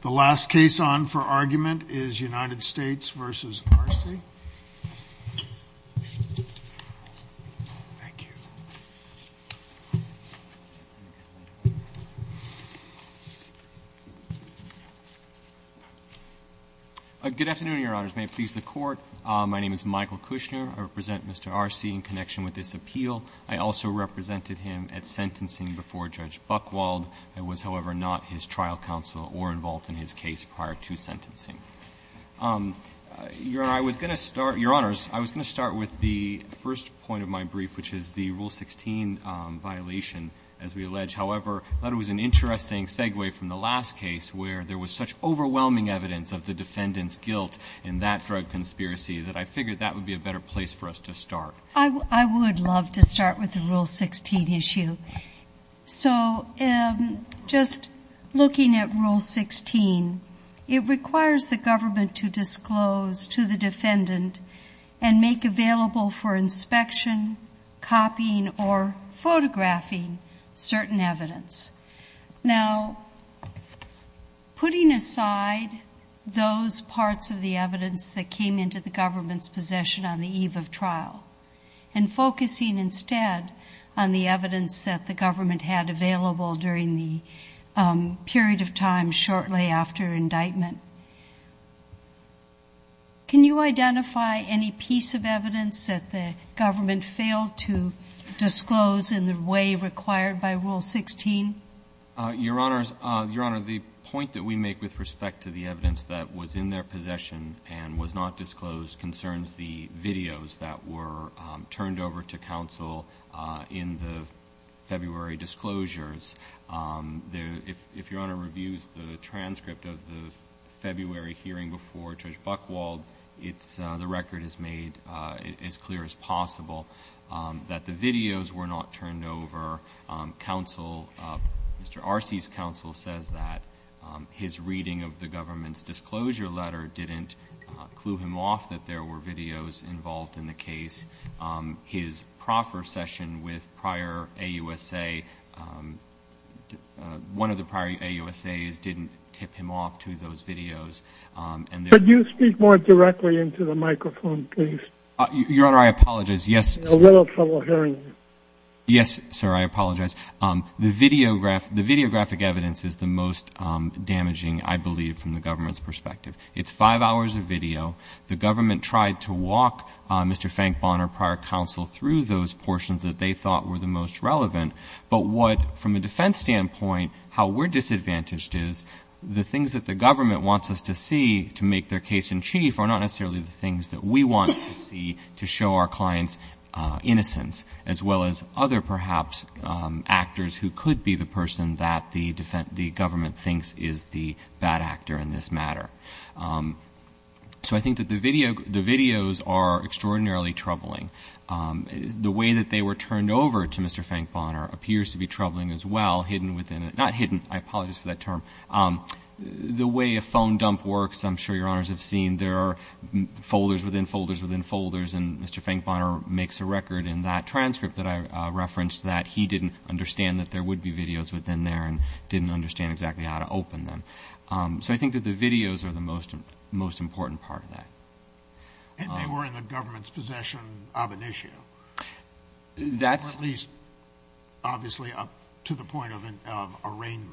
The last case on for argument is United States v. Arce. Good afternoon, Your Honors. May it please the Court. My name is Michael Kushner. I represent Mr. Arce in connection with this appeal. I also represented him at sentencing before Judge Buchwald. I was, however, not his trial counsel or involved in his case prior to sentencing. Your Honor, I was going to start, Your Honors, I was going to start with the first point of my brief, which is the Rule 16 violation, as we allege. However, I thought it was an interesting segue from the last case where there was such overwhelming evidence of the defendant's guilt in that drug conspiracy that I figured that would be a better place for us to start. I would love to start with the Rule 16 issue. So just looking at Rule 16, it requires the government to disclose to the defendant and make available for inspection, copying, or photographing certain evidence. Now, putting aside those parts of the evidence that came into the government's possession on the eve of trial and focusing instead on the evidence that the government had available during the period of time shortly after indictment, can you identify any piece of evidence that the government failed to disclose in the way required by Rule 16? Your Honors, Your Honor, the point that we make with respect to the evidence that was in their possession and was not disclosed concerns the videos that were turned over to counsel in the February disclosures. If Your Honor reviews the transcript of the February hearing before Judge Buchwald, the record is made as clear as possible that the videos were not turned over. Mr. Arce's counsel says that his reading of the government's disclosure letter didn't clue him off that there were videos involved in the case. His proffer session with prior AUSA, one of the prior AUSAs, didn't tip him off to those videos. Could you speak more directly into the microphone, please? Your Honor, I apologize. I'm having a little trouble hearing you. Yes, sir, I apologize. The videographic evidence is the most damaging, I believe, from the government's perspective. It's five hours of video. The government tried to walk Mr. Frank Bonner, prior counsel, through those portions that they thought were the most relevant. But what, from a defense standpoint, how we're disadvantaged is the things that the government wants us to see to make their case in chief are not necessarily the things that we want to see to show our clients innocence, as well as other, perhaps, actors who could be the person that the government thinks is the bad actor in this matter. So I think that the videos are extraordinarily troubling. The way that they were turned over to Mr. Frank Bonner appears to be troubling as well, hidden within it. Not hidden, I apologize for that term. The way a phone dump works, I'm sure Your Honors have seen, there are folders within folders within folders, and Mr. Frank Bonner makes a record in that transcript that I referenced that he didn't understand that there would be videos within there and didn't understand exactly how to open them. So I think that the videos are the most important part of that. And they were in the government's possession of an issue, or at least obviously up to the point of arraignment.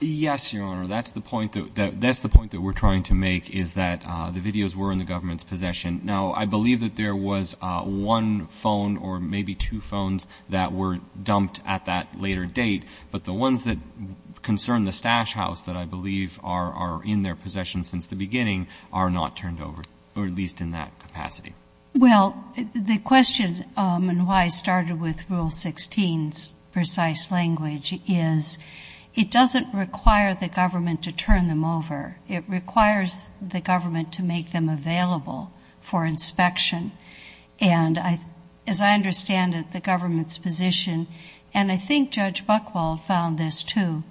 Yes, Your Honor, that's the point that we're trying to make, is that the videos were in the government's possession. Now, I believe that there was one phone or maybe two phones that were dumped at that later date, but the ones that concern the stash house that I believe are in their possession since the beginning are not turned over, or at least in that capacity. Well, the question, and why I started with Rule 16's precise language, is it doesn't require the government to turn them over. It requires the government to make them available for inspection. And as I understand it, the government's position, and I think Judge Buchwald found this too,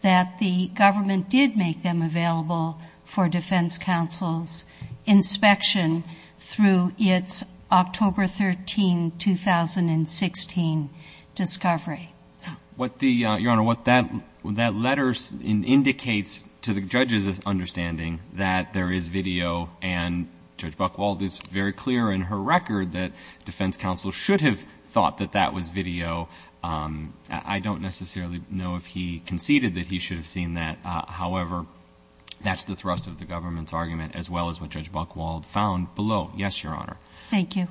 that the government did make them available for defense counsel's inspection through its October 13, 2016 discovery. Your Honor, what that letter indicates to the judge's understanding that there is video, and Judge Buchwald is very clear in her record that defense counsel should have thought that that was video. I don't necessarily know if he conceded that he should have seen that. However, that's the thrust of the government's argument as well as what Judge Buchwald found below. Yes, Your Honor. Thank you.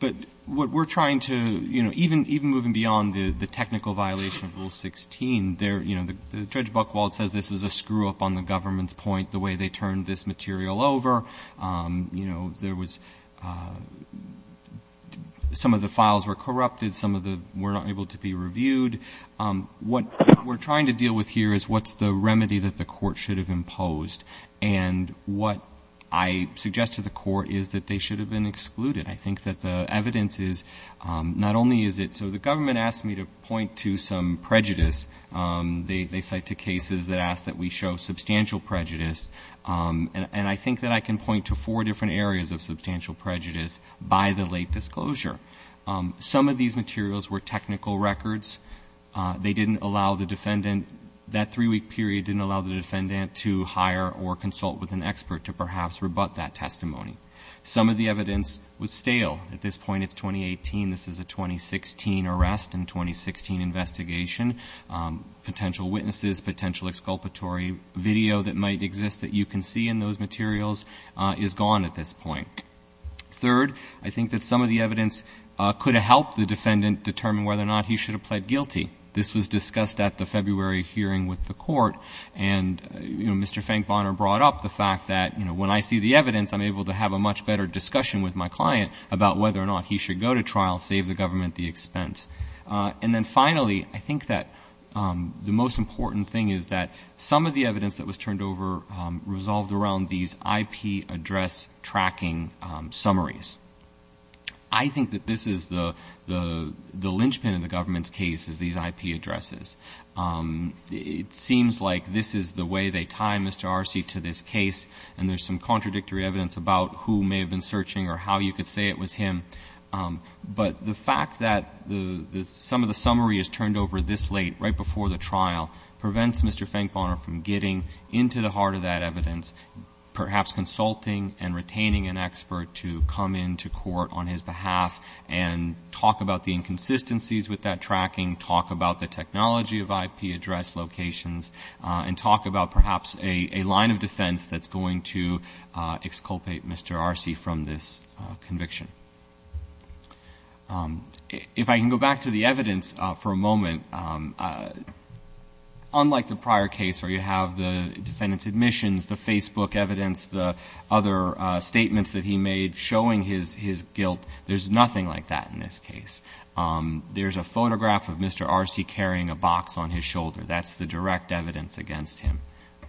But what we're trying to, you know, even moving beyond the technical violation of Rule 16, Judge Buchwald says this is a screw-up on the government's point, the way they turned this material over. You know, there was some of the files were corrupted, some were not able to be reviewed. What we're trying to deal with here is what's the remedy that the court should have imposed, and what I suggest to the court is that they should have been excluded. I think that the evidence is not only is it, so the government asked me to point to some prejudice. They cite two cases that ask that we show substantial prejudice, and I think that I can point to four different areas of substantial prejudice by the late disclosure. Some of these materials were technical records. They didn't allow the defendant, that three-week period didn't allow the defendant to hire or consult with an expert to perhaps rebut that testimony. Some of the evidence was stale. At this point, it's 2018. This is a 2016 arrest and 2016 investigation. Potential witnesses, potential exculpatory video that might exist that you can see in those materials is gone at this point. Third, I think that some of the evidence could have helped the defendant determine whether or not he should have pled guilty. This was discussed at the February hearing with the court, and Mr. Finkbonner brought up the fact that when I see the evidence, I'm able to have a much better discussion with my client about whether or not he should go to trial, save the government the expense. And then finally, I think that the most important thing is that some of the evidence that was turned over resolved around these IP address tracking summaries. I think that this is the linchpin in the government's case is these IP addresses. It seems like this is the way they tie Mr. Arce to this case, and there's some contradictory evidence about who may have been searching or how you could say it was him. But the fact that some of the summary is turned over this late, right before the trial, prevents Mr. Finkbonner from getting into the heart of that evidence, perhaps consulting and retaining an expert to come into court on his behalf and talk about the inconsistencies with that tracking, talk about the technology of IP address locations, and talk about perhaps a line of defense that's going to exculpate Mr. Arce from this conviction. If I can go back to the evidence for a moment, unlike the prior case where you have the defendant's admissions, the Facebook evidence, the other statements that he made showing his guilt, there's nothing like that in this case. There's a photograph of Mr. Arce carrying a box on his shoulder. That's the direct evidence against him,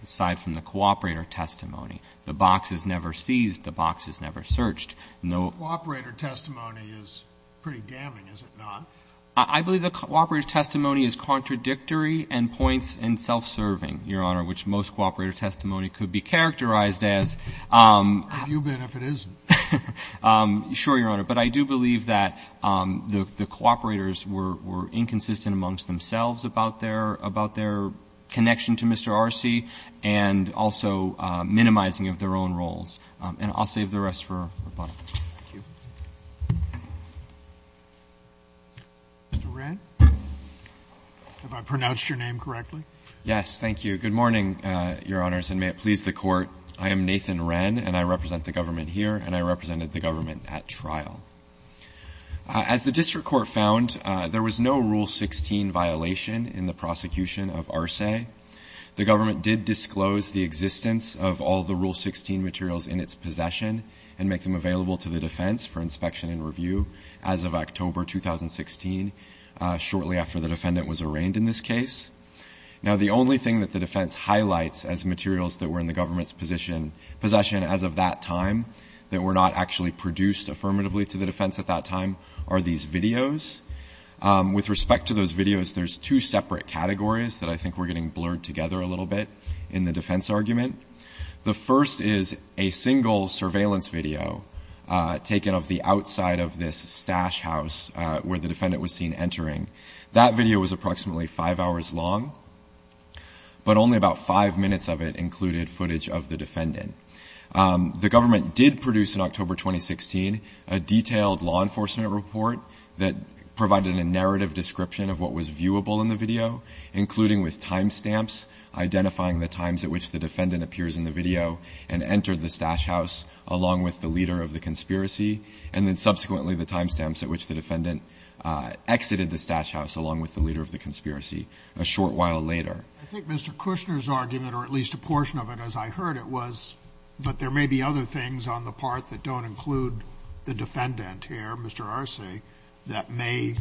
aside from the cooperator testimony. The box is never seized. The box is never searched. No ---- The cooperator testimony is pretty damning, is it not? I believe the cooperator testimony is contradictory and points in self-serving, Your Honor, which most cooperator testimony could be characterized as. Have you been if it isn't? Sure, Your Honor. But I do believe that the cooperators were inconsistent amongst themselves about their connection to Mr. Arce and also minimizing of their own roles. And I'll save the rest for the bottom. Thank you. Mr. Wren? Have I pronounced your name correctly? Yes, thank you. Good morning, Your Honors, and may it please the Court. I am Nathan Wren, and I represent the government here, and I represented the government at trial. As the district court found, there was no Rule 16 violation in the prosecution of Arce. The government did disclose the existence of all the Rule 16 materials in its possession and make them available to the defense for inspection and review as of October 2016, shortly after the defendant was arraigned in this case. Now, the only thing that the defense highlights as materials that were in the government's possession as of that time that were not actually produced affirmatively to the defense at that time are these videos. With respect to those videos, there's two separate categories that I think we're getting blurred together a little bit in the defense argument. The first is a single surveillance video taken of the outside of this stash house where the defendant was seen entering. That video was approximately five hours long, but only about five minutes of it included footage of the defendant. The government did produce in October 2016 a detailed law enforcement report that provided a narrative description of what was viewable in the video, including with time stamps, identifying the times at which the defendant appears in the video and entered the stash house along with the leader of the conspiracy, and then subsequently the time stamps at which the defendant exited the stash house along with the leader of the conspiracy a short while later. I think Mr. Kushner's argument, or at least a portion of it as I heard it was, but there may be other things on the part that don't include the defendant here, Mr. Arce, that may,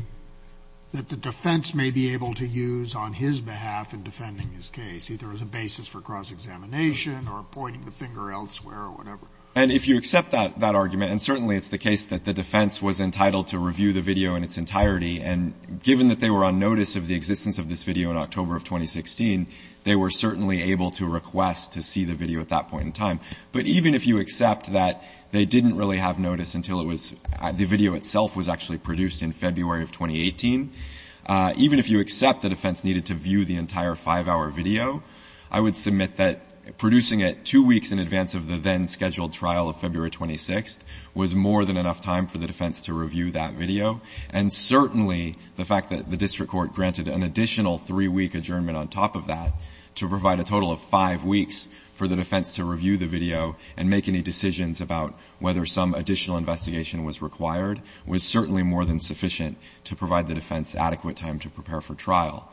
that the defense may be able to use on his behalf in defending his case, either as a basis for cross-examination or pointing the finger elsewhere or whatever. And if you accept that argument, and certainly it's the case that the defense was entitled to review the video in its entirety, and given that they were on notice of the existence of this video in October of 2016, they were certainly able to request to see the video at that point in time. But even if you accept that they didn't really have notice until it was, the video itself was actually produced in February of 2018, even if you accept the defense needed to view the entire five-hour video, I would submit that producing it two weeks in advance of the then-scheduled trial of February 26th was more than enough time for the defense to review that video. And certainly the fact that the district court granted an additional three-week adjournment on top of that to provide a total of five weeks for the defense to review the video and make any decisions about whether some additional investigation was required was certainly more than sufficient to provide the defense adequate time to prepare for trial.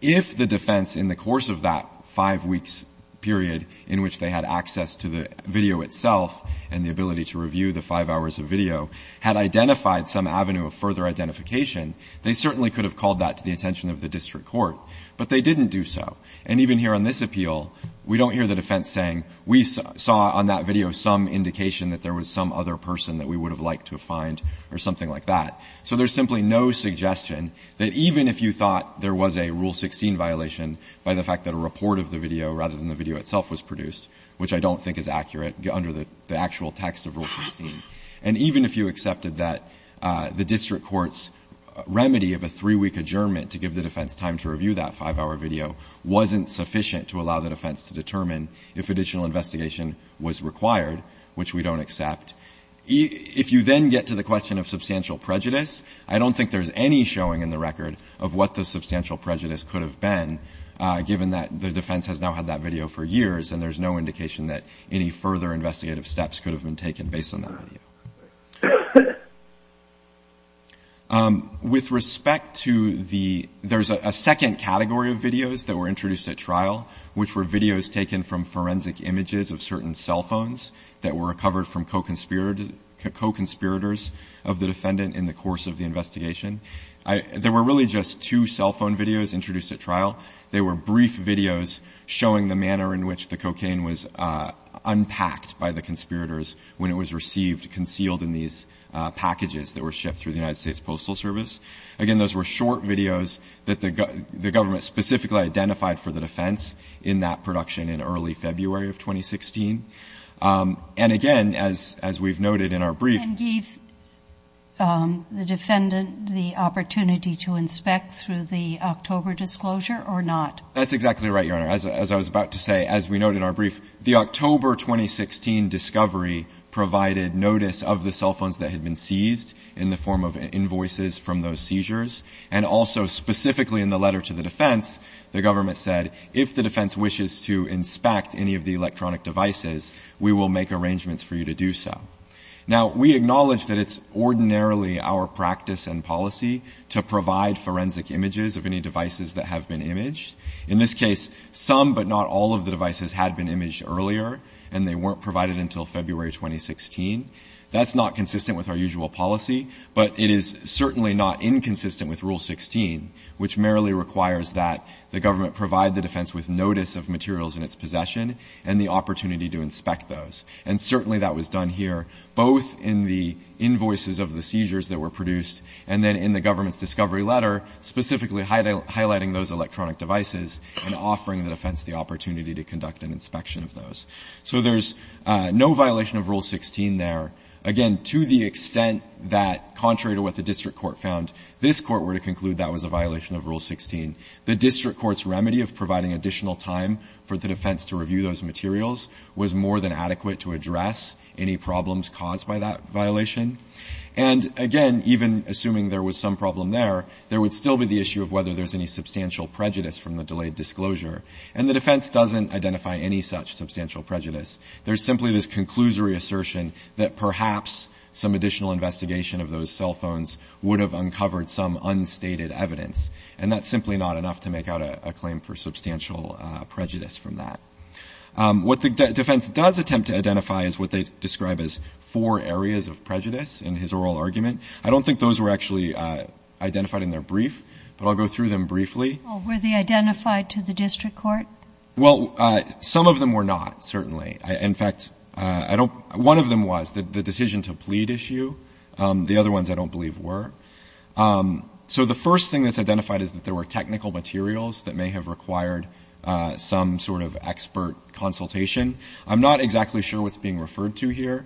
If the defense in the course of that five-weeks period in which they had access to the video itself and the ability to review the five hours of video had identified some avenue of further identification, they certainly could have called that to the attention of the district court, but they didn't do so. And even here on this appeal, we don't hear the defense saying, we saw on that video some indication that there was some other person that we would have liked to find or something like that. So there's simply no suggestion that even if you thought there was a Rule 16 violation by the fact that a report of the video rather than the video itself was produced, which I don't think is accurate under the actual text of Rule 16, and even if you accepted that the district court's remedy of a three-week adjournment to give the defense time to review that five-hour video wasn't sufficient to allow the defense to determine if additional investigation was required, which we don't accept, if you then get to the question of substantial prejudice, I don't think there's any showing in the record of what the substantial prejudice could have been, given that the defense has now had that video for years and there's no indication that any further investigative steps could have been taken based on that video. With respect to the – there's a second category of videos that were introduced at trial, which were videos taken from forensic images of certain cell phones that were recovered from co-conspirators of the defendant in the course of the investigation. There were really just two cell phone videos introduced at trial. They were brief videos showing the manner in which the cocaine was unpacked by the conspirators when it was received, concealed in these packages that were shipped through the United States Postal Service. Again, those were short videos that the government specifically identified for the defense in that production in early February of 2016. And again, as we've noted in our brief – And gave the defendant the opportunity to inspect through the October disclosure or not? That's exactly right, Your Honor. As I was about to say, as we note in our brief, the October 2016 discovery provided notice of the cell phones that had been seized in the form of invoices from those seizures. And also specifically in the letter to the defense, the government said, if the defense wishes to inspect any of the electronic devices, we will make arrangements for you to do so. Now, we acknowledge that it's ordinarily our practice and policy to provide forensic images of any devices that have been imaged. In this case, some but not all of the devices had been imaged earlier, and they weren't provided until February 2016. That's not consistent with our usual policy, but it is certainly not inconsistent with Rule 16, which merely requires that the government provide the defense with notice of materials in its possession and the opportunity to inspect those. And certainly that was done here, both in the invoices of the seizures that were produced and then in the government's discovery letter, specifically highlighting those electronic devices and offering the defense the opportunity to conduct an investigation. defense doesn't identify any such substantial prejudice. There's simply this conclusory assertion that the government's decision to provide additional time for the defense to review those materials was more than adequate to address any problems caused by that violation. And again, even assuming there was some problem there, there would still be the issue of whether there's any substantial prejudice from the delayed disclosure. And the defense doesn't identify any such substantial prejudice. There's simply this conclusory assertion that perhaps some additional investigation of those cell phones would have uncovered some unstated evidence. And that's simply not enough to make out a claim for substantial prejudice from that. What the defense does attempt to identify is what they describe as four areas of prejudice in his oral argument. I don't think those were actually identified in their brief, but I'll go through them briefly. Well, were they identified to the district court? Well, some of them were not, certainly. In fact, one of them was, the decision to plead issue. The other ones I don't believe were. So the first thing that's identified is that there were technical materials that may have required some sort of expert consultation. I'm not exactly sure what's being referred to here.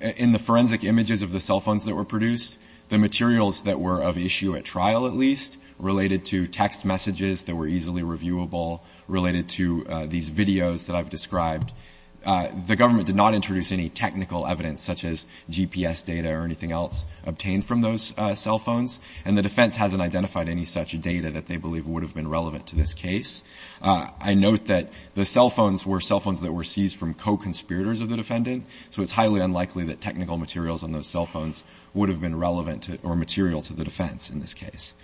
In the forensic images of the cell phones that were produced, the materials that were of issue at trial, at least, related to text messages, phone calls, and other forms of communication. There were text messages that were easily reviewable related to these videos that I've described. The government did not introduce any technical evidence such as GPS data or anything else obtained from those cell phones. And the defense hasn't identified any such data that they believe would have been relevant to this case. I note that the cell phones were cell phones that were seized from co-conspirators of the defendant, so it's highly unlikely that technical materials on those cell phones would have been relevant or material to the defense in this case.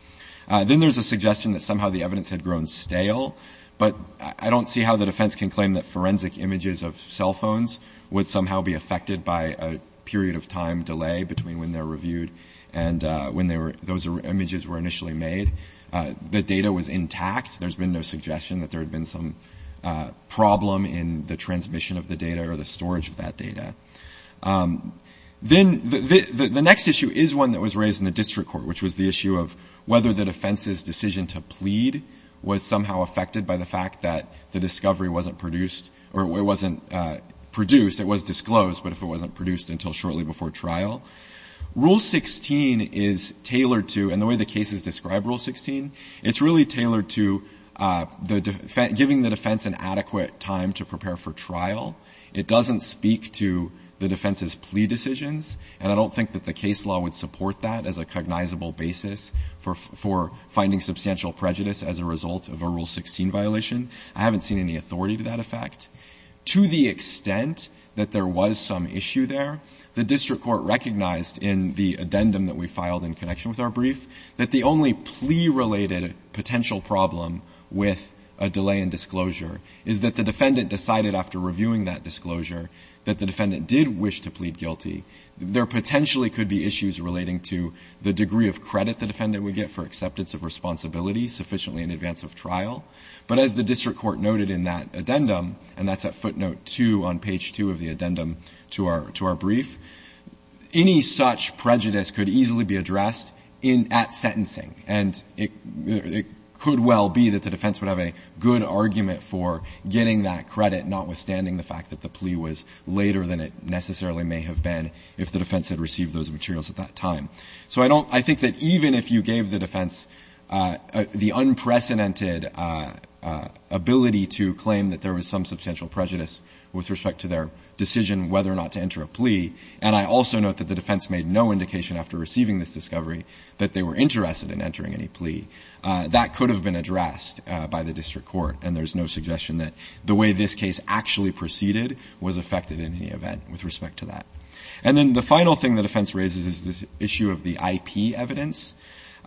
Then there's a suggestion that somehow the evidence had grown stale, but I don't see how the defense can claim that forensic images of cell phones would somehow be affected by a period of time delay between when they're reviewed and when those images were initially made. The data was intact. There's been no suggestion that there had been some problem in the transmission of the data or the storage of that data. Then the next issue is one that was raised in the district court, which was the question of whether the defense's decision to plead was somehow affected by the fact that the discovery wasn't produced, or it wasn't produced, it was disclosed, but if it wasn't produced until shortly before trial. Rule 16 is tailored to, and the way the cases describe Rule 16, it's really tailored to giving the defense an adequate time to prepare for trial. It doesn't speak to the defense's plea decisions, and I don't think that the case law would substantial prejudice as a result of a Rule 16 violation. I haven't seen any authority to that effect. To the extent that there was some issue there, the district court recognized in the addendum that we filed in connection with our brief that the only plea-related potential problem with a delay in disclosure is that the defendant decided after reviewing that disclosure that the defendant did wish to plead guilty. There potentially could be issues relating to the degree of credit the defendant would get for acceptance of responsibility sufficiently in advance of trial. But as the district court noted in that addendum, and that's at footnote two on page two of the addendum to our, to our brief, any such prejudice could easily be addressed in, at sentencing. And it, it could well be that the defense would have a good argument for getting that credit, notwithstanding the fact that the plea was later than it necessarily may have been if the defense had received those materials at that time. So I don't, I think that even if you gave the defense the unprecedented ability to claim that there was some substantial prejudice with respect to their decision whether or not to enter a plea, and I also note that the defense made no indication after receiving this discovery that they were interested in entering any plea. That could have been addressed by the district court, and there's no suggestion that the way this case actually proceeded was affected in any event with respect to that. And then the final thing the defense raises is the issue of the IP evidence.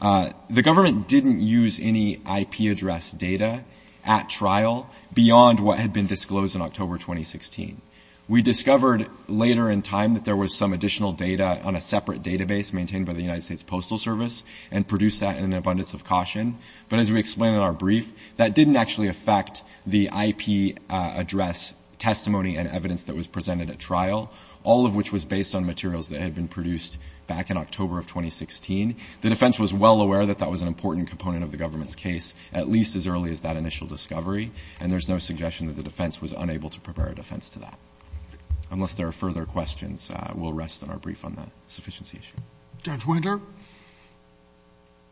The government didn't use any IP address data at trial beyond what had been disclosed in October 2016. We discovered later in time that there was some additional data on a separate database maintained by the United States Postal Service and produced that in an abundance of caution. But as we explained in our brief, that didn't actually affect the IP address testimony and evidence that was produced back in October of 2016. The defense was well aware that that was an important component of the government's case at least as early as that initial discovery, and there's no suggestion that the defense was unable to prepare a defense to that. Unless there are further questions, we'll rest on our brief on that sufficiency issue. Roberts. Judge Winter.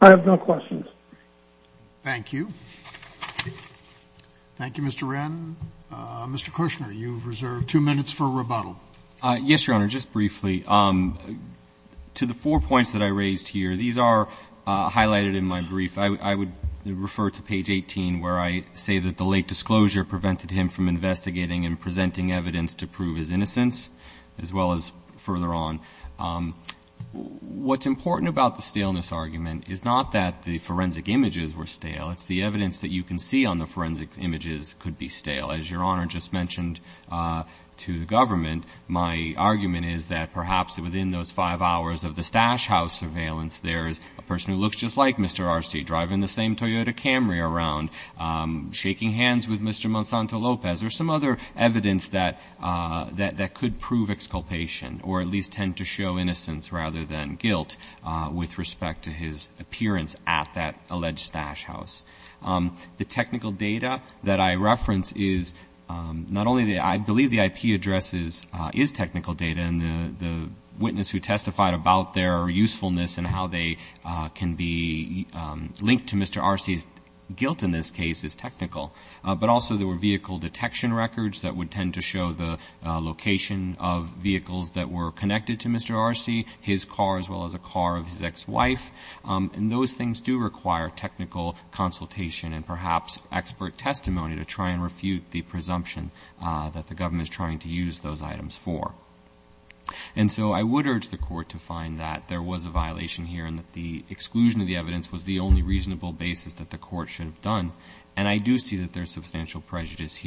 I have no questions. Thank you. Thank you, Mr. Wren. Mr. Kushner, you've reserved two minutes for rebuttal. Yes, Your Honor. Just briefly, to the four points that I raised here, these are highlighted in my brief. I would refer to page 18 where I say that the late disclosure prevented him from investigating and presenting evidence to prove his innocence as well as further on. What's important about the staleness argument is not that the forensic images were stale. It's the evidence that you can see on the forensic images could be stale. As Your Honor just mentioned to the government, my argument is that perhaps within those five hours of the Stash House surveillance, there's a person who looks just like Mr. Arce, driving the same Toyota Camry around, shaking hands with Mr. Monsanto Lopez. There's some other evidence that could prove exculpation or at least tend to show innocence rather than guilt with respect to his appearance at that alleged Stash House. The technical data that I reference is not only the, I believe the IP address is technical data and the witness who testified about their usefulness and how they can be linked to Mr. Arce's guilt in this case is technical, but also there were vehicle detection records that would tend to show the location of vehicles that were connected to Mr. Arce, his car as well as a car of his ex-wife. And those things do require technical consultation and perhaps expert testimony to try and refute the presumption that the government is trying to use those items for. And so I would urge the court to find that there was a violation here and that the exclusion of the evidence was the only reasonable basis that the court should have done. And I do see that there's substantial evidence and there's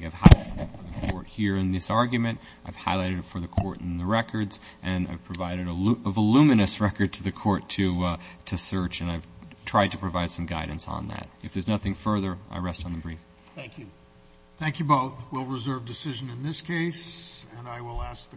a numinous record to the court to search and I've tried to provide some guidance on that. If there's nothing further, I rest on the brief. Thank you. Thank you both. We'll reserve decision in this case and I will ask the witness to come forward....